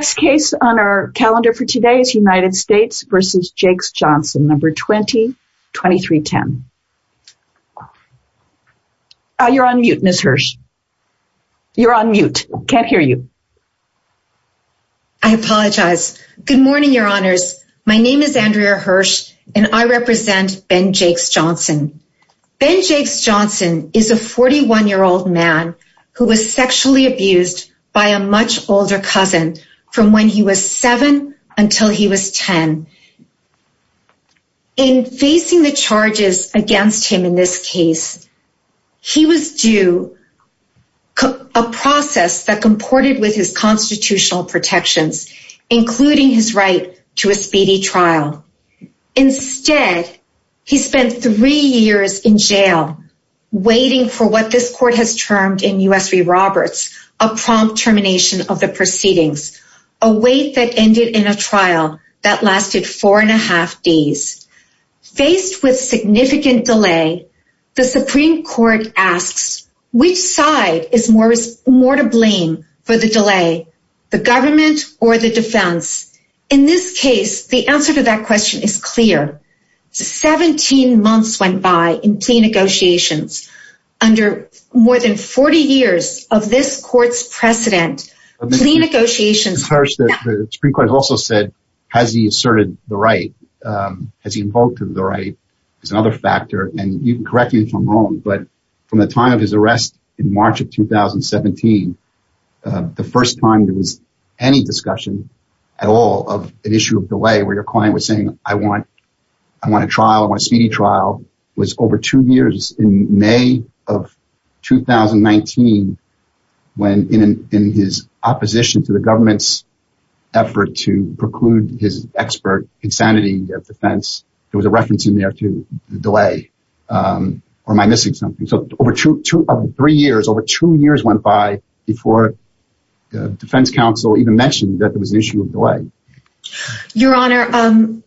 Next case on our calendar for today is United States v. Jakes-Johnson, No. 20-2310. You're on mute, Ms. Hirsch. You're on mute. Can't hear you. I apologize. Good morning, Your Honors. My name is Andrea Hirsch, and I represent Ben Jakes-Johnson. Ben Jakes-Johnson is a 41-year-old man who was sexually abused by a much older cousin from when he was seven until he was ten. In facing the charges against him in this case, he was due a process that comported with his constitutional protections, including his right to a speedy trial. Instead, he spent three years in jail waiting for what this proceedings, a wait that ended in a trial that lasted four and a half days. Faced with significant delay, the Supreme Court asks, which side is more to blame for the delay, the government or the defense? In this case, the answer to that question is clear. Seventeen The Supreme Court also said, has he asserted the right? Has he invoked the right as another factor? And you can correct me if I'm wrong, but from the time of his arrest in March of 2017, the first time there was any discussion at all of an issue of delay where your client was saying, I want a trial, I want a speedy trial, was over two years in May of 2019, when in his opposition to the government's effort to preclude his expert insanity of defense, there was a reference in there to delay. Or am I missing something? So over two years went by before the defense counsel even mentioned that there was an issue of delay. Your Honor,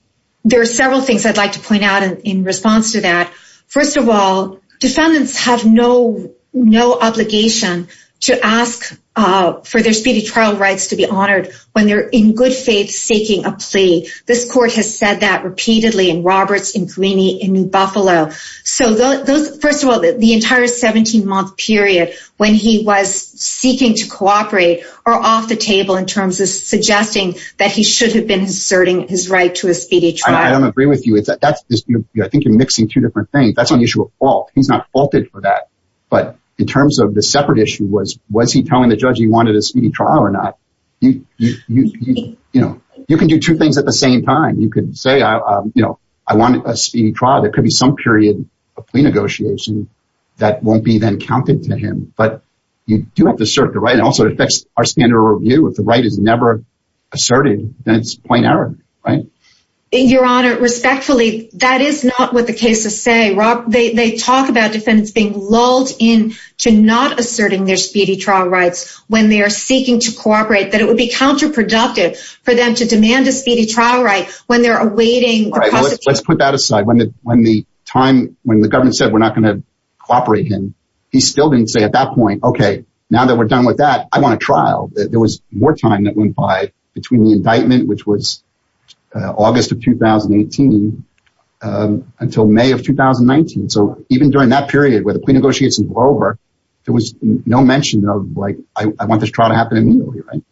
there are several things I'd like to point out in response to that. First of all, defendants have no obligation to ask for their speedy trial rights to be honored when they're in good faith seeking a plea. This court has said that repeatedly in Roberts, in Greeney, in Buffalo. So first of all, the entire 17 month period when he was seeking to cooperate are off the table in terms of suggesting that he should have been asserting his right to a speedy trial. I don't agree with that. I think you're mixing two different things. That's an issue of fault. He's not faulted for that. But in terms of the separate issue was, was he telling the judge he wanted a speedy trial or not? You can do two things at the same time. You could say, I want a speedy trial. There could be some period of plea negotiation that won't be then counted to him. But you do have to assert the right. And also it affects our standard of review. If the right is never asserted, then it's point error, right? In your honor, respectfully, that is not what the cases say. Rob, they talk about defendants being lulled in to not asserting their speedy trial rights when they are seeking to cooperate, that it would be counterproductive for them to demand a speedy trial right when they're awaiting. Let's put that aside when the when the time when the government said we're not going to cooperate, and he still didn't say at that point, okay, now that we're done with that, I want a trial that there was more time that went by between the indictment, which was August of 2018. Until May of 2019. So even during that period where the plea negotiations were over, there was no mention of like, I want this trial to happen immediately, right?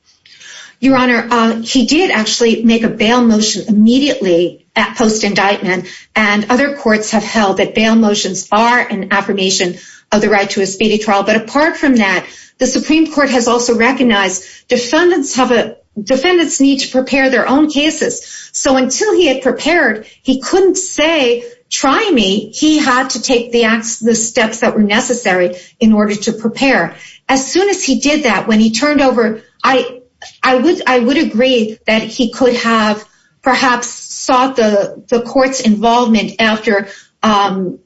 Your Honor, he did actually make a bail motion immediately at post indictment. And other courts have held that bail motions are an affirmation of the right to a speedy trial. But apart from that, the Supreme Court has also recognized defendants have a defendants need to prepare their own cases. So until he had prepared, he couldn't say, try me, he had to take the acts the steps that were necessary in order to prepare. As soon as he did that when he turned over, I, I would I would agree that he could have perhaps sought the court's involvement after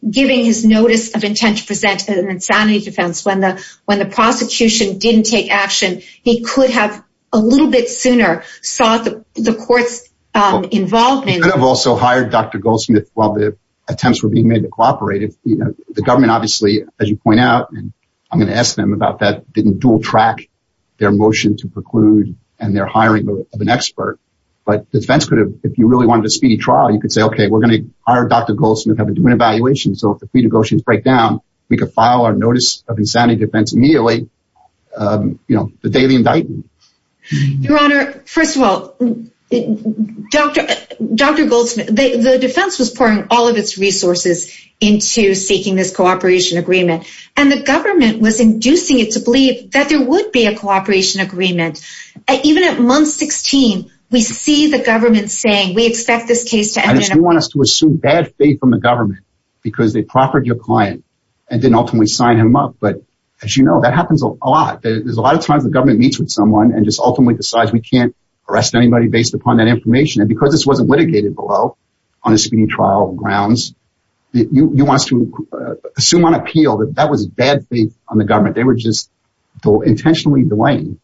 giving his notice of intent to present an insanity defense when the when the prosecution didn't take action. He could have a little bit sooner sought the courts involved may have also hired Dr. Goldsmith while the attempts were being made to cooperate if the government obviously, as you point out, I'm going to ask them about that didn't dual track their motion to preclude and their hiring of an expert. But defense could have if you really wanted a speedy trial, you could say okay, we're doing evaluation. So if the negotiations break down, we could file a notice of insanity defense immediately. You know, the daily indictment. Your Honor, first of all, Dr. Dr. Goldsmith, the defense was pouring all of its resources into seeking this cooperation agreement. And the government was inducing it to believe that there would be a cooperation agreement. Even at month 16. We see the government saying we expect this case want us to assume bad faith from the government, because they proffered your client and didn't ultimately sign him up. But as you know, that happens a lot. There's a lot of times the government meets with someone and just ultimately decides we can't arrest anybody based upon that information. And because this wasn't litigated below on a speeding trial grounds. You want us to assume on appeal that that was bad faith on the government. They were just so intentionally delaying.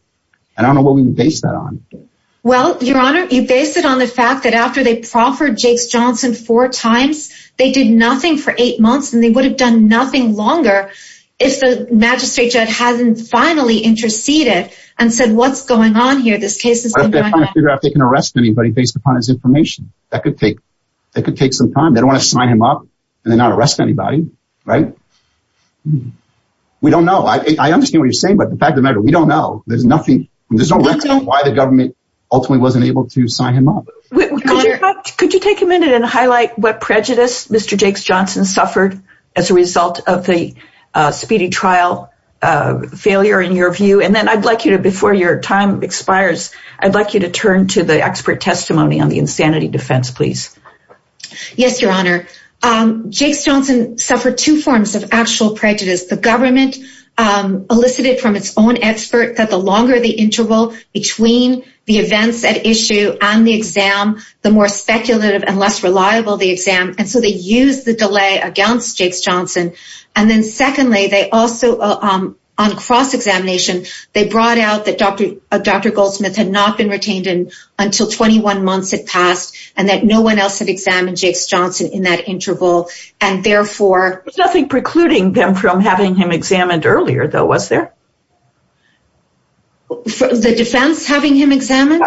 And I don't know what we base that on. Well, Your Honor, you base it on the fact that after they proffered Jake's Johnson four times, they did nothing for eight months, and they would have done nothing longer. If the magistrate judge hasn't finally interceded and said what's going on here, this case is figured out they can arrest anybody based upon his information. That could take that could take some time. They don't want to sign him up. And they're not arresting anybody. Right? We don't know. I understand what you're saying. But the fact of the matter, we don't know there's nothing. There's no reason why the government ultimately wasn't able to sign him up. Could you take a minute and highlight what prejudice Mr. Jake's Johnson suffered as a result of the speeding trial failure in your view. And then I'd like you to before your time expires, I'd like you to turn to the expert testimony on the insanity defense, please. Yes, Your Honor. Jake's Johnson suffered two forms of actual prejudice the government elicited from its own expert that the longer the interval between the events at issue and the exam, the more speculative and less reliable the exam and so they use the delay against Jake's Johnson. And then secondly, they also on cross examination, they brought out that Dr. Dr. Goldsmith had not been retained in until 21 months had passed, and that no one else had examined Jake's Johnson in that interval. And therefore, nothing precluding them from having him examined earlier, though, was there? The defense having him examined?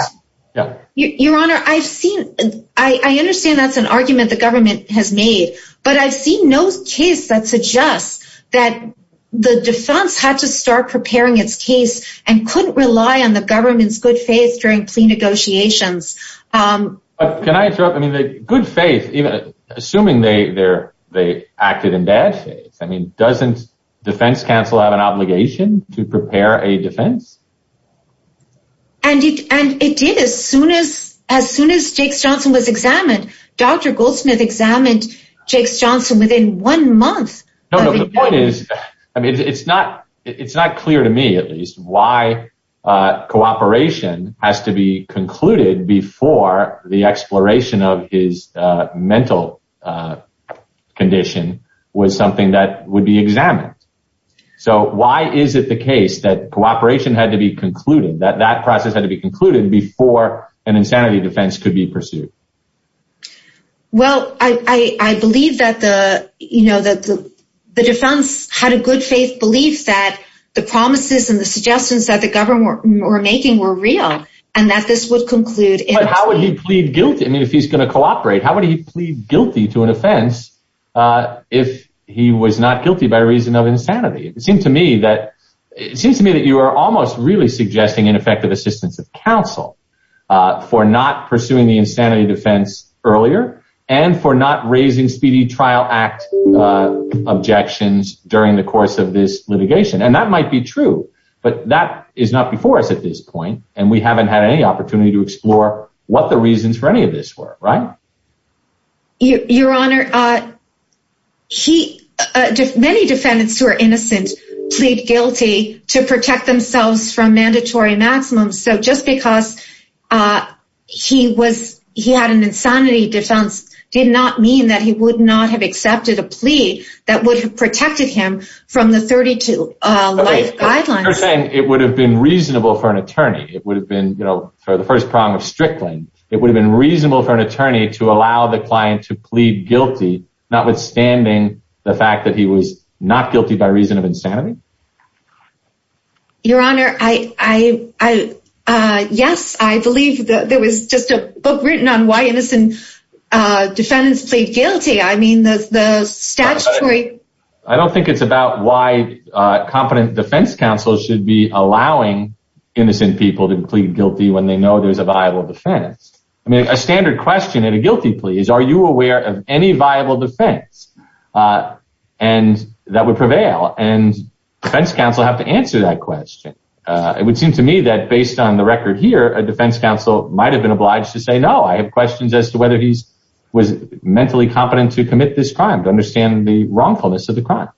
Your Honor, I've seen, I understand that's an argument the government has made. But I've seen no case that suggests that the defense had to start preparing its case and couldn't rely on the government's good faith during plea negotiations. Can I interrupt? I mean, the good faith, even assuming they they're, they acted in bad faith. I mean, doesn't defense counsel have an obligation to prepare a defense? And it and it did as soon as as soon as Jake's Johnson was examined. Dr. Goldsmith examined Jake's Johnson within one month. No, no, the point is, I mean, it's not it's not clear to me at least why cooperation has to be concluded before the exploration of his mental condition was something that would be examined. So why is it the case that cooperation had to be concluded that that process had to be concluded before an insanity defense could be pursued? Well, I believe that the, you know, that the defense had a good faith belief that the promises and the suggestions that the government were making were real, and that this would conclude it. How would he plead guilty? I mean, if he's going to cooperate, how would he plead guilty to an offense? If he was not guilty by reason of insanity, it seemed to me that it seems to me that you are almost really suggesting ineffective assistance of counsel for not pursuing the insanity defense earlier, and for not raising Speedy Trial Act objections during the course of this litigation. And that might be true, but that is not before us at this point. And we haven't had any opportunity to explore what the reasons for any of this were, right? Your Honor, he, many defendants who are innocent, plead guilty to protect themselves from mandatory maximums. So just because he was, he had an insanity defense did not mean that he would not have accepted a plea that would have protected him from the 32 life guidelines. It would have been reasonable for an attorney, it would have been, you know, for the first prong of Strickland, it would have been reasonable for an attorney to allow the client to plead guilty, notwithstanding the fact that he was not guilty by reason of insanity. Your Honor, I, yes, I believe that there was just a book written on why innocent defendants plead guilty. I mean, there's the statutory... I don't think it's about why competent defense counsel should be allowing innocent people to plead guilty when they know there's a viable defense. I mean, a standard question in a guilty plea is, are you aware of any viable defense? And that would prevail and defense counsel have to answer that question. It would seem to me that based on the record here, a defense counsel might've been obliged to say, no, I have questions as to whether he's, was mentally competent to commit this crime, to understand the wrongfulness of the crime.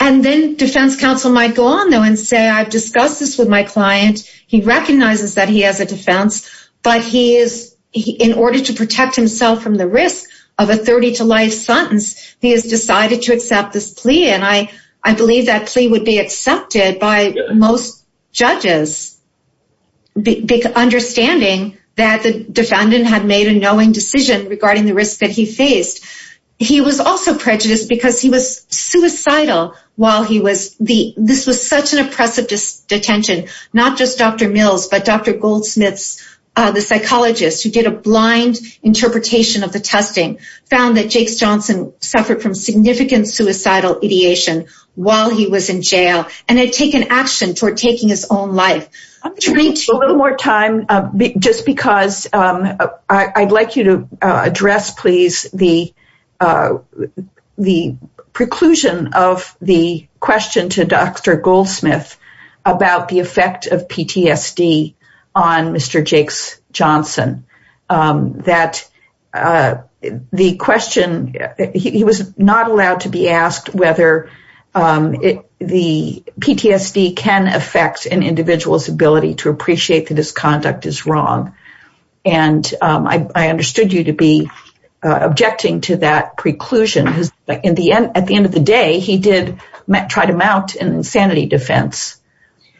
And then defense counsel might go on though and say, I've discussed this with my client. He recognizes that he has a defense, but he is in order to protect himself from the risk of a 32 life sentence, he has decided to accept this plea. And I believe that plea would be accepted by most judges, big understanding that the defendant had made a knowing decision regarding the risk that he faced. He was also prejudiced because he was suicidal while he was, this was such an oppressive detention, not just Dr. Mills, but Dr. Goldsmiths, the psychologist who did a blind interpretation of the testing found that Jakes Johnson suffered from significant suicidal ideation while he was in jail and had taken action toward taking his own life. I'm going to take a little more time just because I'd like you to address, please, the preclusion of the question to Dr. Goldsmith about the effect of PTSD on Mr. Jakes Johnson, that the question, he was not allowed to be asked whether the PTSD can affect an individual's ability to appreciate that his conduct is wrong. And I understood you to be objecting to that preclusion. At the end of the day, he did try to mount an insanity defense.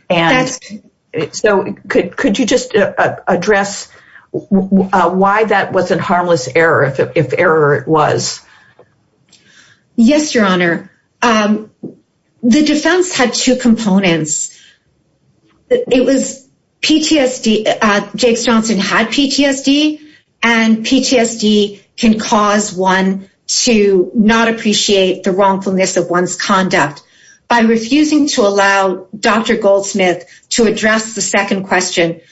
And so could you just address why that was a harmless error, if error was? Yes, Your Honor. The defense had two components. It was PTSD, Jakes Johnson had PTSD, and PTSD can cause one to not appreciate the wrongfulness of one's conduct. By refusing to allow Dr. Goldsmith to address the second question,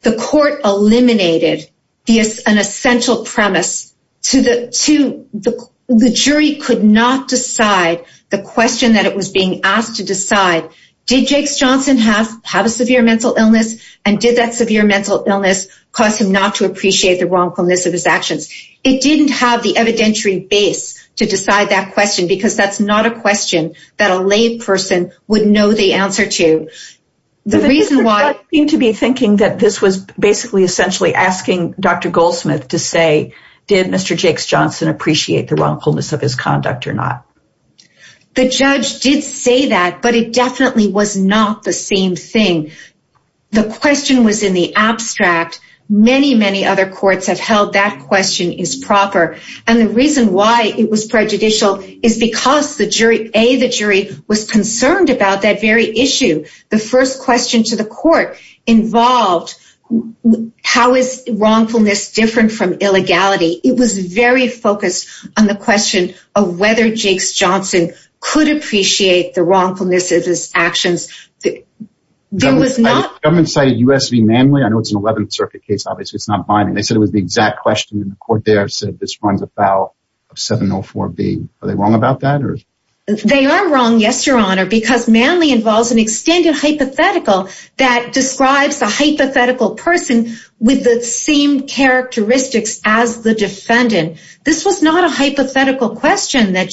the court eliminated an essential premise to the jury could not decide the question that it was being asked to decide. Did Jakes Johnson have a severe mental illness? And did that severe mental illness cause him not to appreciate the wrongfulness of his actions? It didn't have the evidentiary base to decide that question, because that's not a question that a lay person would know the answer to. The reason why... The judge seemed to be thinking that this was basically essentially asking Dr. Goldsmith to say, did Mr. Jakes Johnson appreciate the wrongfulness of his conduct or not? The judge did say that, but it definitely was not the same thing. The question was in the abstract. Many, many other courts have held that question is proper. And the reason why it was prejudicial is because the jury, A, the jury was concerned about that very issue. The first question to the court involved, how is wrongfulness different from illegality? It was very focused on the question of whether Jakes Johnson could appreciate the wrongfulness of his actions. There was not... It's not binding. They said it was the exact question. And the court there said, this runs about 704B. Are they wrong about that? They are wrong. Yes, your honor, because Manly involves an extended hypothetical that describes a hypothetical person with the same characteristics as the defendant. This was not a hypothetical question that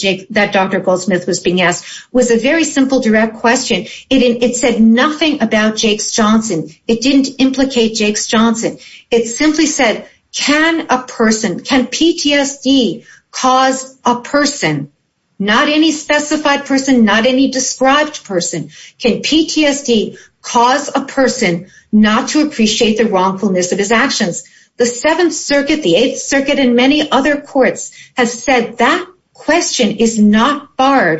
Dr. Goldsmith was being asked, was a very simple direct question. It said nothing about Jakes Johnson. It didn't implicate Jakes Johnson. It simply said, can a person, can PTSD cause a person, not any specified person, not any described person, can PTSD cause a person not to appreciate the wrongfulness of his actions? The Seventh Circuit, the Eighth Circuit, and many other courts have said that question is not by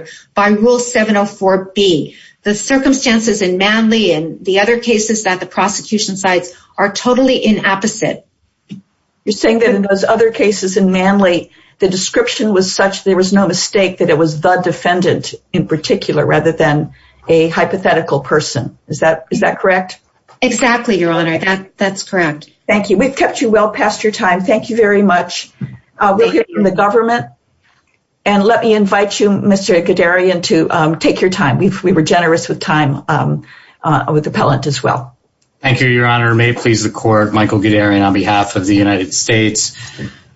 rule 704B. The circumstances in Manly and the other cases that the prosecution cites are totally in opposite. You're saying that in those other cases in Manly, the description was such there was no mistake that it was the defendant in particular, rather than a hypothetical person. Is that correct? Exactly, your honor. That's correct. Thank you. We've kept you well past your time. Thank you very much. We'll hear from the government and let me invite you, Mr. Guderian, to take your time. We were generous with time with appellant as well. Thank you, your honor. May it please the court, Michael Guderian on behalf of the United States.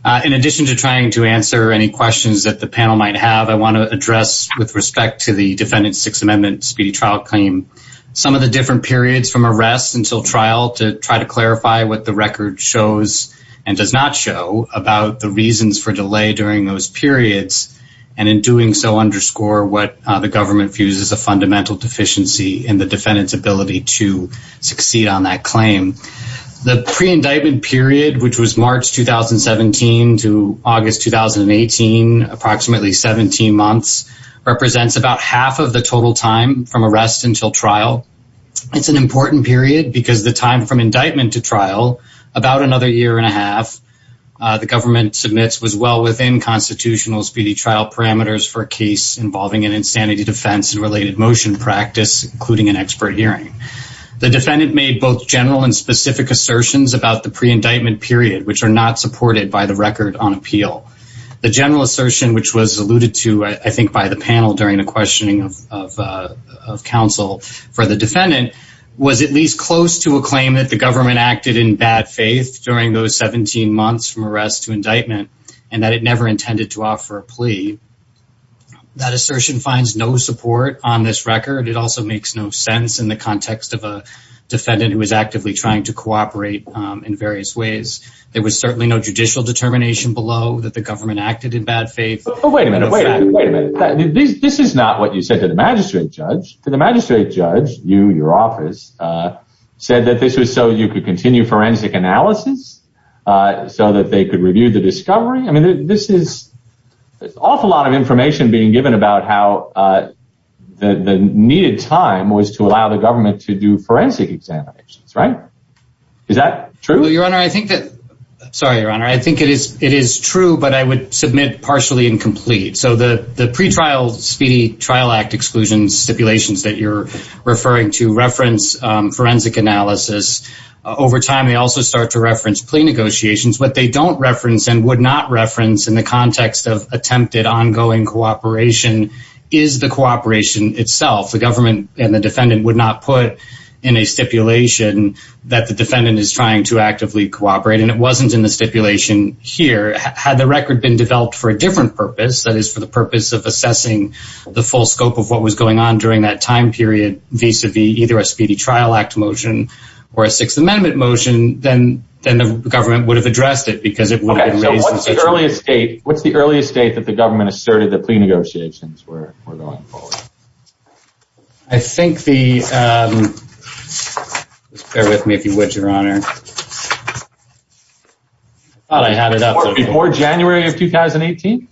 In addition to trying to answer any questions that the panel might have, I want to address with respect to the defendant's Sixth Amendment speedy trial claim, some of the different periods from arrest until trial to try to clarify what the record shows and does not show about the reasons for delay during those periods, and in doing so, underscore what the government views as a fundamental deficiency in the defendant's ability to succeed on that claim. The pre-indictment period, which was March 2017 to August 2018, approximately 17 months, represents about half of the total time from arrest until trial. It's an important period because the time from indictment to trial, about another year and a half, the government submits, was well within constitutional speedy trial parameters for a case involving an insanity defense and related motion practice, including an expert hearing. The defendant made both general and specific assertions about the pre-indictment period, which are not supported by the Record on Appeal. The general assertion, which was alluded to, I think, by the panel during the claim that the government acted in bad faith during those 17 months from arrest to indictment, and that it never intended to offer a plea, that assertion finds no support on this record. It also makes no sense in the context of a defendant who is actively trying to cooperate in various ways. There was certainly no judicial determination below that the government acted in bad faith. Oh, wait a minute, wait a minute. This is not what you said to the magistrate judge. To the magistrate judge, you, your office, said that this was so you could continue forensic analysis, so that they could review the discovery. I mean, this is an awful lot of information being given about how the needed time was to allow the government to do forensic examinations, right? Is that true? Well, Your Honor, I think that... Sorry, Your Honor. I think it is true, but I would submit partially and complete. So the pretrial speedy trial act exclusion stipulations that you're referring to reference forensic analysis. Over time, they also start to reference plea negotiations. What they don't reference and would not reference in the context of attempted ongoing cooperation is the cooperation itself. The government and the defendant would not put in a stipulation that the defendant is trying to actively cooperate, and it wasn't in the stipulation here. Had the record been developed for a different purpose, that is, for the purpose of assessing the full scope of what was going on during that time period vis-a-vis either a speedy trial act motion or a Sixth Amendment motion, then the government would have addressed it because it would have been raised in such a way. Okay, so what's the earliest date that the government asserted that plea negotiations were going forward? I think the... Bear with me, if you would, Your Honor. I thought I had it up. Before January of 2018?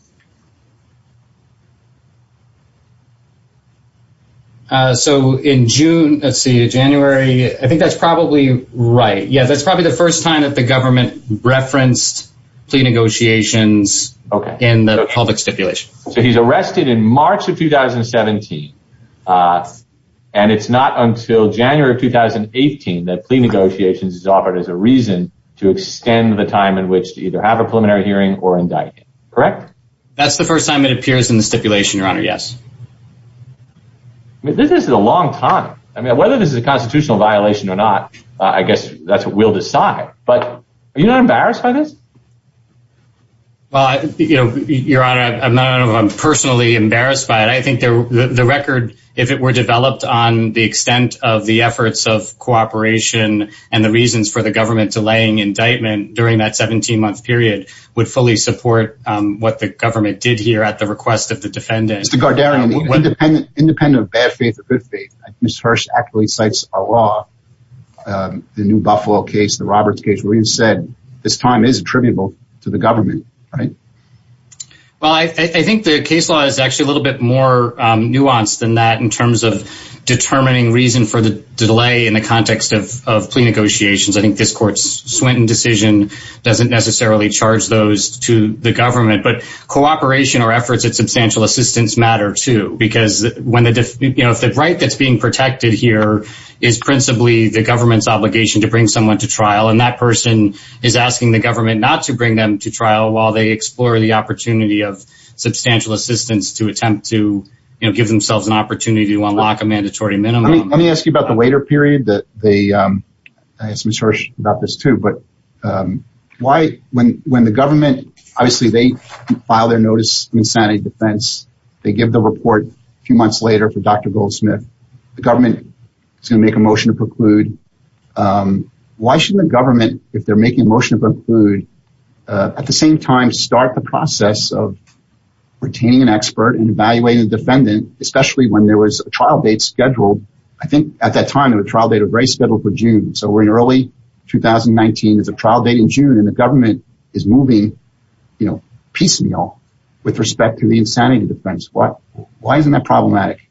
So in June, let's see, January, I think that's probably right. Yeah, that's probably the first time that the government referenced plea negotiations in the public stipulation. So he's arrested in March of 2017, and it's not until January of 2018 that plea negotiations is offered as a reason to extend the time in which to either have a preliminary hearing or indictment, correct? That's the first time it appears in the stipulation, Your Honor, yes. This is a long time. I mean, whether this is a constitutional violation or not, I guess that's what we'll decide, but are you not embarrassed by this? Well, you know, Your Honor, I'm not personally embarrassed by it. I think the record, if it were developed on the extent of the efforts of cooperation and the reasons for the government delaying indictment during that 17-month period, would fully support what the government did here at the request of the defendant. Mr. Gardarian, independent of bad faith or good faith, Ms. Hirsch accurately cites our law, the New Buffalo case, the Roberts case, where you said this time is attributable to the government, right? Well, I think the case law is actually a little bit more nuanced than that in terms of determining reason for the delay in the context of plea negotiations. I think this court's Swinton decision doesn't necessarily charge those to the government, but cooperation or efforts at substantial assistance matter, too, because if the right that's being protected here is principally the government's obligation to bring someone to trial, and that person is asking the government not to bring them to trial while they explore the to, you know, give themselves an opportunity to unlock a mandatory minimum. Let me ask you about the waiter period that they, I asked Ms. Hirsch about this, too, but why when the government, obviously, they file their notice of insanity defense, they give the report a few months later for Dr. Goldsmith, the government is going to make a motion to preclude. Why shouldn't the government, if they're making a motion to preclude, at the same time start the process of retaining an expert and evaluating the defendant, especially when there was a trial date scheduled, I think at that time it was a trial date of race scheduled for June, so we're in early 2019. There's a trial date in June and the government is moving, you know, piecemeal with respect to the insanity defense. Why isn't that problematic?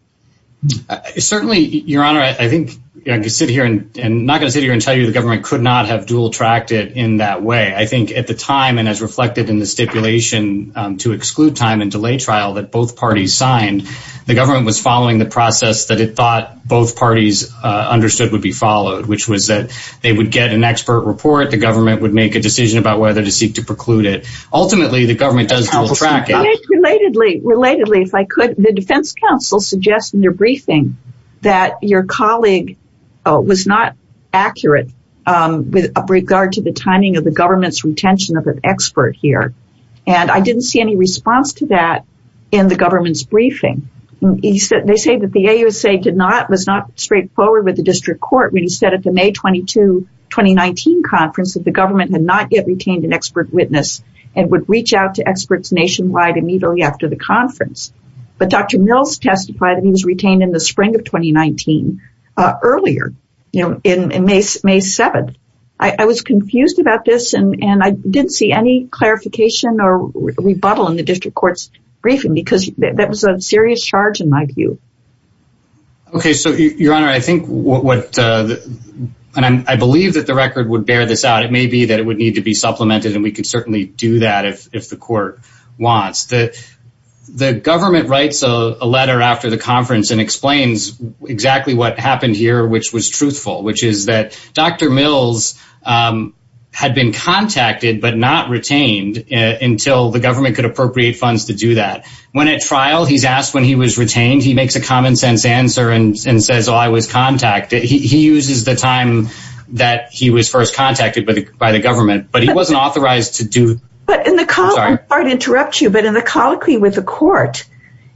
Certainly, your honor, I think I could sit here and not going to sit here and tell you the government could not have dual-tracked it in that way. I think at the time, as reflected in the stipulation to exclude time and delay trial that both parties signed, the government was following the process that it thought both parties understood would be followed, which was that they would get an expert report, the government would make a decision about whether to seek to preclude it. Ultimately, the government does dual-track it. Relatedly, if I could, the defense counsel suggests in their briefing that your colleague was not accurate with regard to the timing of the government's retention of an expert here, and I didn't see any response to that in the government's briefing. They say that the AUSA did not, was not straightforward with the district court when he said at the May 22, 2019 conference that the government had not yet retained an expert witness and would reach out to experts nationwide immediately after the conference, but Dr. Mills testified that he was retained in the spring of 2019 earlier, you know, in May 7th. I was confused about this, and I didn't see any clarification or rebuttal in the district court's briefing because that was a serious charge in my view. Okay, so your honor, I think what, and I believe that the record would bear this out. It may be that it would need to be supplemented, and we could certainly do that if the court wants. The government writes a letter after the conference and explains exactly what happened here, which was truthful, which is that Dr. Mills had been contacted but not retained until the government could appropriate funds to do that. When at trial, he's asked when he was retained, he makes a common-sense answer and says, oh, I was contacted. He uses the time that he was first contacted by the government, but he wasn't authorized to do. But in the, I'm sorry to interrupt you, but in the colloquy with the court,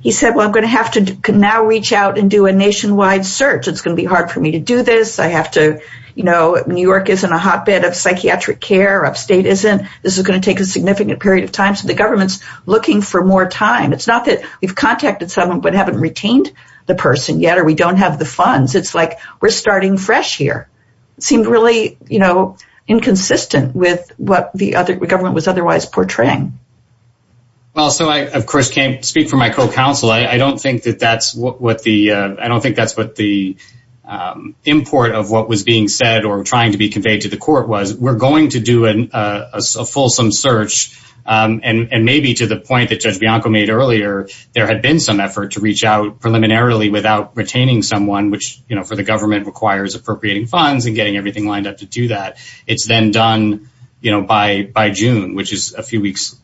he said, well, I'm going to have to now reach out and do a nationwide search. It's going to be hard for me to do this. I have to, you know, New York is in a hotbed of psychiatric care, upstate isn't. This is going to take a significant period of time, so the government's looking for more time. It's not that we've contacted someone but haven't retained the person yet, or we don't have the funds. It's like we're starting fresh here. It seemed really, you know, inconsistent with what government was otherwise portraying. Well, so I, of course, can't speak for my co-counsel. I don't think that that's what the, I don't think that's what the import of what was being said or trying to be conveyed to the court was. We're going to do a fulsome search, and maybe to the point that Judge Bianco made earlier, there had been some effort to reach out preliminarily without retaining someone, which, you know, for the government requires appropriating funds and getting everything lined up to do that. It's then done, you know, by June, which is a few weeks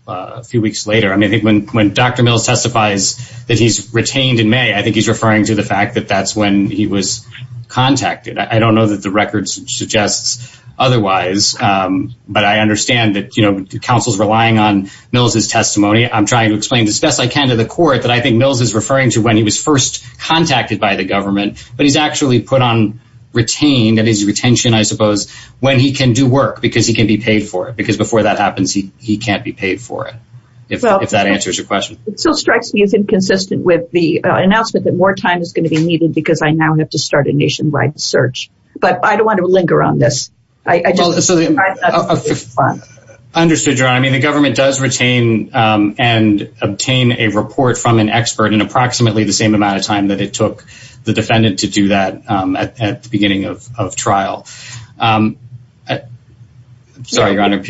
later. I mean, I think when Dr. Mills testifies that he's retained in May, I think he's referring to the fact that that's when he was contacted. I don't know that the record suggests otherwise, but I understand that, you know, counsel's relying on Mills' testimony. I'm trying to explain as best I can to the court that I think Mills is referring to when he was first contacted by the government, but he's actually put on retain, that is retention, I suppose, when he can do work, because he can be paid for it, because before that happens, he can't be paid for it, if that answers your question. It still strikes me as inconsistent with the announcement that more time is going to be needed because I now have to start a nationwide search, but I don't want to linger on this. I just understand. I mean, the government does retain and obtain a report from an expert in approximately the same amount of time that it took the defendant to do that at the beginning of trial. Sorry, Your Honor.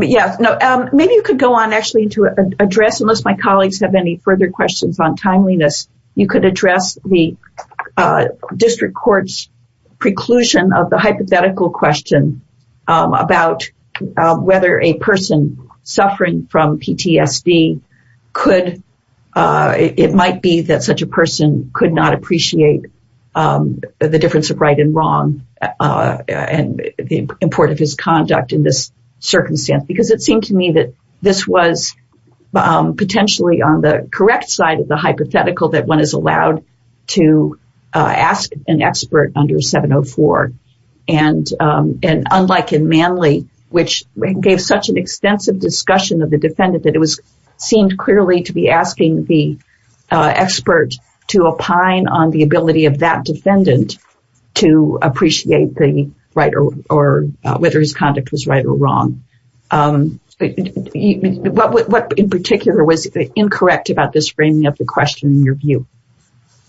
Yeah, no, maybe you could go on actually to address, unless my colleagues have any further questions on timeliness, you could address the district court's preclusion of the hypothetical question about whether a person suffering from PTSD could, it might be that such a person could not appreciate the difference of right and wrong and the importance of his conduct in this circumstance, because it seemed to me that this was potentially on the correct side of the hypothetical that one is allowed to ask an expert under 704. And unlike in Manley, which gave such an extensive discussion of the seemed clearly to be asking the expert to opine on the ability of that defendant to appreciate the right or whether his conduct was right or wrong. What in particular was incorrect about this framing of the question in your view?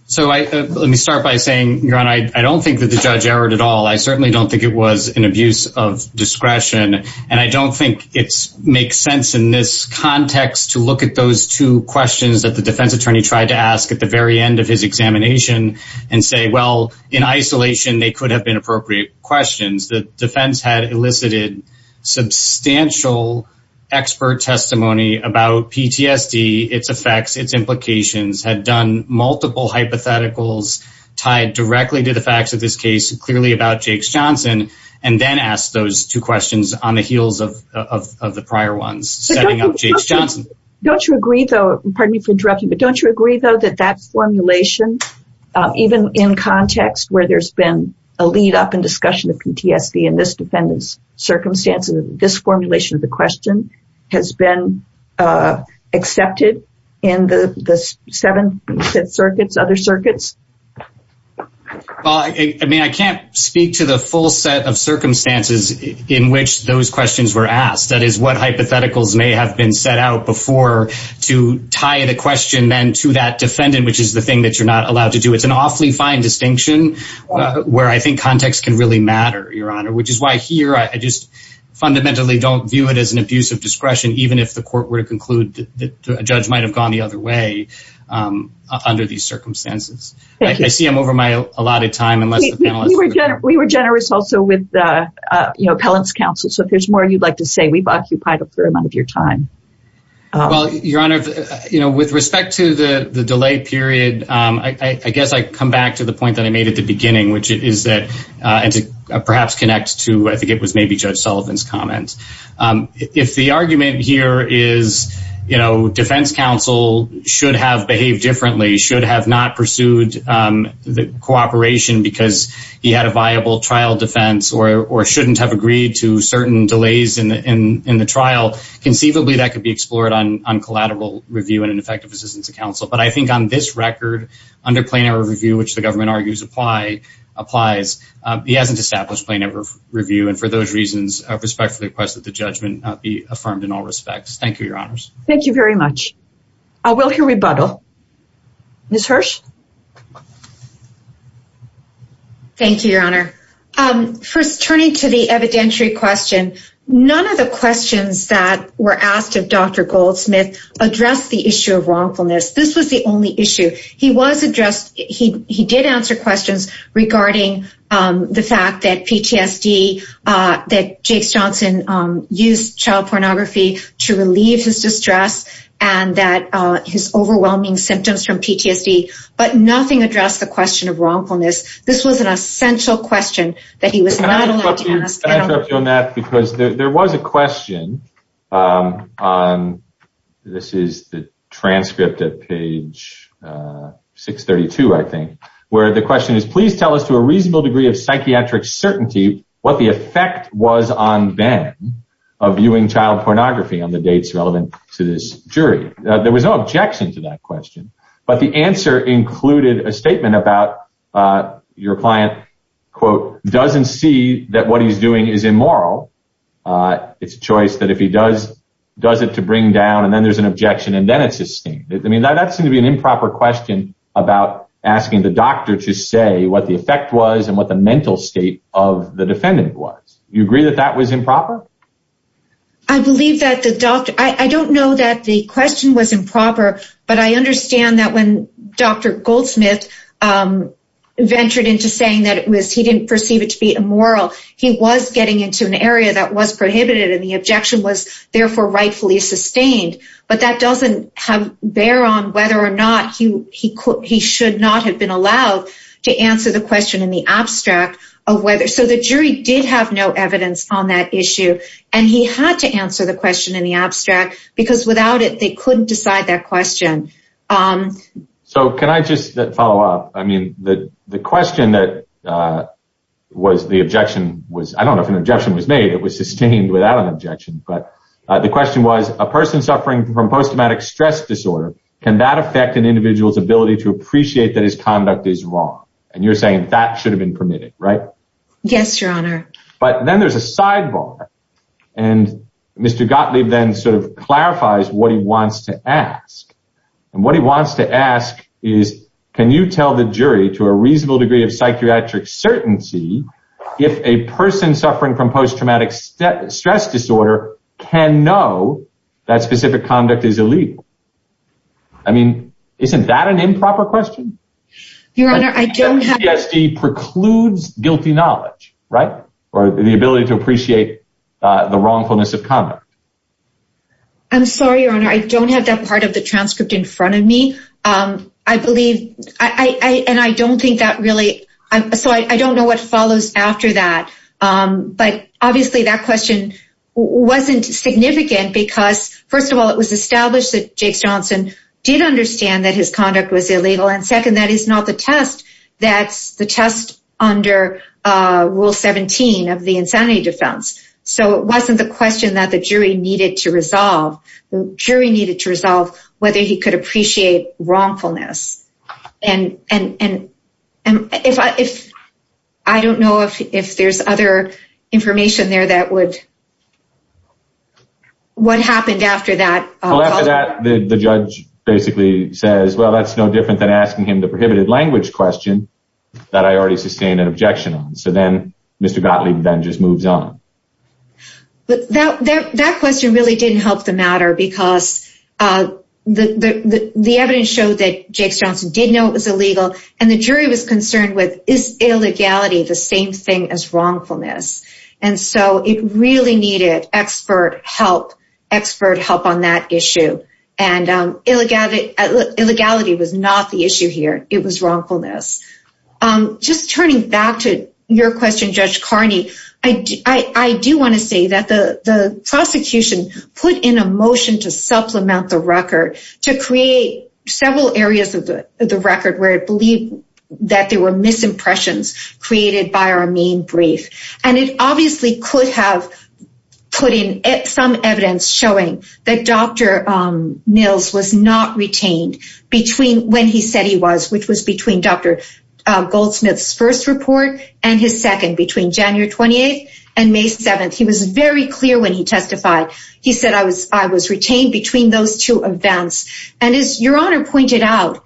So let me start by saying, Your Honor, I don't think that the judge erred at all. I certainly don't think it was an abuse of discretion. And I don't think it's makes sense in this context to look at those two questions that the defense attorney tried to ask at the very end of his examination and say, well, in isolation, they could have been appropriate questions that defense had elicited substantial expert testimony about PTSD, its effects, its implications had done multiple hypotheticals tied directly to the facts of this case clearly about Jake Johnson, and then ask those two questions on the heels of the prior ones setting up Jake Johnson. Don't you agree, though, pardon me for interrupting, but don't you agree, though, that that formulation, even in context where there's been a lead up and discussion of PTSD in this defendant's circumstances, this formulation of the question has been accepted in the seven circuits, other circuits? Well, I mean, I can't speak to the full set of circumstances in which those questions were asked. That is what hypotheticals may have been set out before to tie the question then to that defendant, which is the thing that you're not allowed to do. It's an awfully fine distinction where I think context can really matter, Your Honor, which is why here I just fundamentally don't view it as an abuse of discretion, even if the court were to conclude that a judge might have gone the other way under these circumstances. Thank you. I see I'm over my allotted time. We were generous also with the appellant's counsel. So if there's more you'd like to say, we've occupied a fair amount of your time. Well, Your Honor, you know, with respect to the delay period, I guess I come back to the point that I made at the beginning, which is that, and to perhaps connect to I think it was maybe Judge Sullivan's comment. If the argument here is, you know, defense counsel should have behaved differently, should have not pursued the cooperation because he had a viable trial defense or shouldn't have agreed to certain delays in the trial, conceivably that could be explored on collateral review and an effective assistance to counsel. But I think on this record, under plain error review, which the government argues applies, he hasn't established plain error review. And for those reasons, I respectfully request that the judgment be affirmed in all respects. Thank you, Your Honors. Thank you very much. I will hear rebuttal. Ms. Hirsh? Thank you, Your Honor. First, turning to the evidentiary question, none of the questions that were asked of Dr. Goldsmith addressed the issue of wrongfulness. This was the only issue. He was addressed. He did answer questions regarding the fact that PTSD, that Jake Johnson used child pornography to relieve his distress and that his overwhelming symptoms from PTSD, but nothing addressed the question of wrongfulness. This was an essential question that he was not allowed to ask. Can I interrupt you on that? Because there was a question on, this is the transcript at page 632, I think, where the question is, please tell us to a reasonable degree of psychiatric certainty what the effect was on Ben of viewing child pornography on the dates relevant to this jury. There was no objection to that question, but the answer included a statement about your client, quote, doesn't see that what he's doing is immoral. It's a choice that if he does it to bring down, and then there's an objection, and then it's esteemed. I mean, that seemed to be an improper question about asking the doctor to say what the effect was and what the mental state of the defendant was. Do you agree that that was improper? I believe that the doctor, I don't know that the question was improper, but I understand that when Dr. Goldsmith ventured into saying that it was, he didn't perceive it to be immoral. He was getting into an area that was prohibited, and the objection was therefore rightfully sustained, but that doesn't have bear on whether or not he should not have been allowed to answer the question in the abstract of whether. So the jury did have no evidence on that issue, and he had to answer the question in the abstract because without it, they couldn't decide that question. So can I just follow up? I mean, the question that was the objection was, I don't know if an objection was made. It was sustained without an objection, but the question was a person suffering from post-traumatic stress disorder, can that affect an individual's ability to appreciate that his conduct is wrong? And you're saying that should have been permitted, right? Yes, your honor. But then there's a sidebar, and Mr. Gottlieb then sort of clarifies what he wants to ask, and what he wants to ask is, can you tell the jury to a reasonable degree of psychiatric certainty if a person suffering from post-traumatic stress disorder can know that specific conduct is illegal? I mean, isn't that an improper question? Your honor, I don't have... PTSD precludes guilty knowledge, right? Or the ability to appreciate the wrongfulness of conduct. I'm sorry, your honor. I don't have that part of the transcript in front of me. I believe, and I don't think that really, so I don't know what follows after that, but obviously that question wasn't significant because, first of all, it was established that Jakes Johnson did understand that his conduct was illegal, and second, that is not the test that's the test under rule 17 of the insanity defense. So it wasn't the question that the jury needed to resolve. The jury needed to resolve whether he could appreciate wrongfulness. And I don't know if there's other information there that would... What happened after that? Well, after that, the judge basically says, well, that's no different than asking him the prohibited language question that I already sustained an objection on. So then Mr. Gottlieb then just moves on. But that question really didn't help the matter because the evidence showed that Jakes Johnson did know it was illegal, and the jury was concerned with, is illegality the same thing as wrongfulness? And so it really needed expert help, expert help on that issue. And illegality was not the issue here. It was wrongfulness. Just turning back to your question, Judge Carney, I do want to say that the prosecution put in a motion to supplement the record to create several areas of the record where it believed that there were misimpressions created by our main brief. And it obviously could have put in some evidence showing that Dr. Mills was not retained between when he said he was, which was between Dr. Goldsmith's first report and his second, between January 28th and May 7th. He was very clear when he testified. He said I was retained between those two events. And as Your Honor pointed out,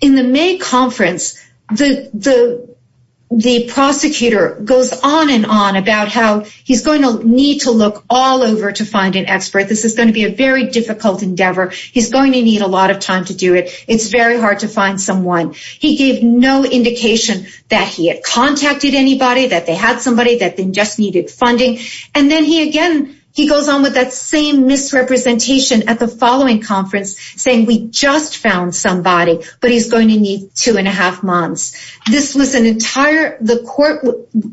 in the May conference, the prosecutor goes on and on about how he's going to need to look all over to find an expert. This is going to be a very difficult endeavor. He's going to need a someone. He gave no indication that he had contacted anybody, that they had somebody, that they just needed funding. And then he again, he goes on with that same misrepresentation at the following conference saying we just found somebody, but he's going to need two and a half months. This was an entire, the court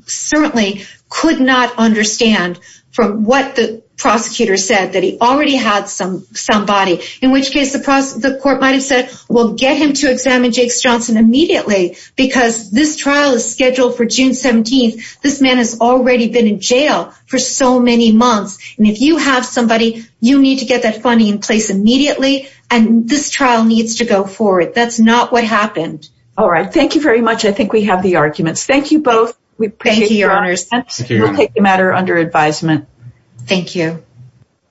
certainly could not understand from what the prosecutor said that he already had some somebody, in which case the court might've said, we'll get him to examine Jake Johnson immediately because this trial is scheduled for June 17th. This man has already been in jail for so many months. And if you have somebody, you need to get that funding in place immediately. And this trial needs to go forward. That's not what happened. All right. Thank you very much. I think we have the arguments. Thank you both. Thank you, your honors. We'll take the matter under advisement. Thank you.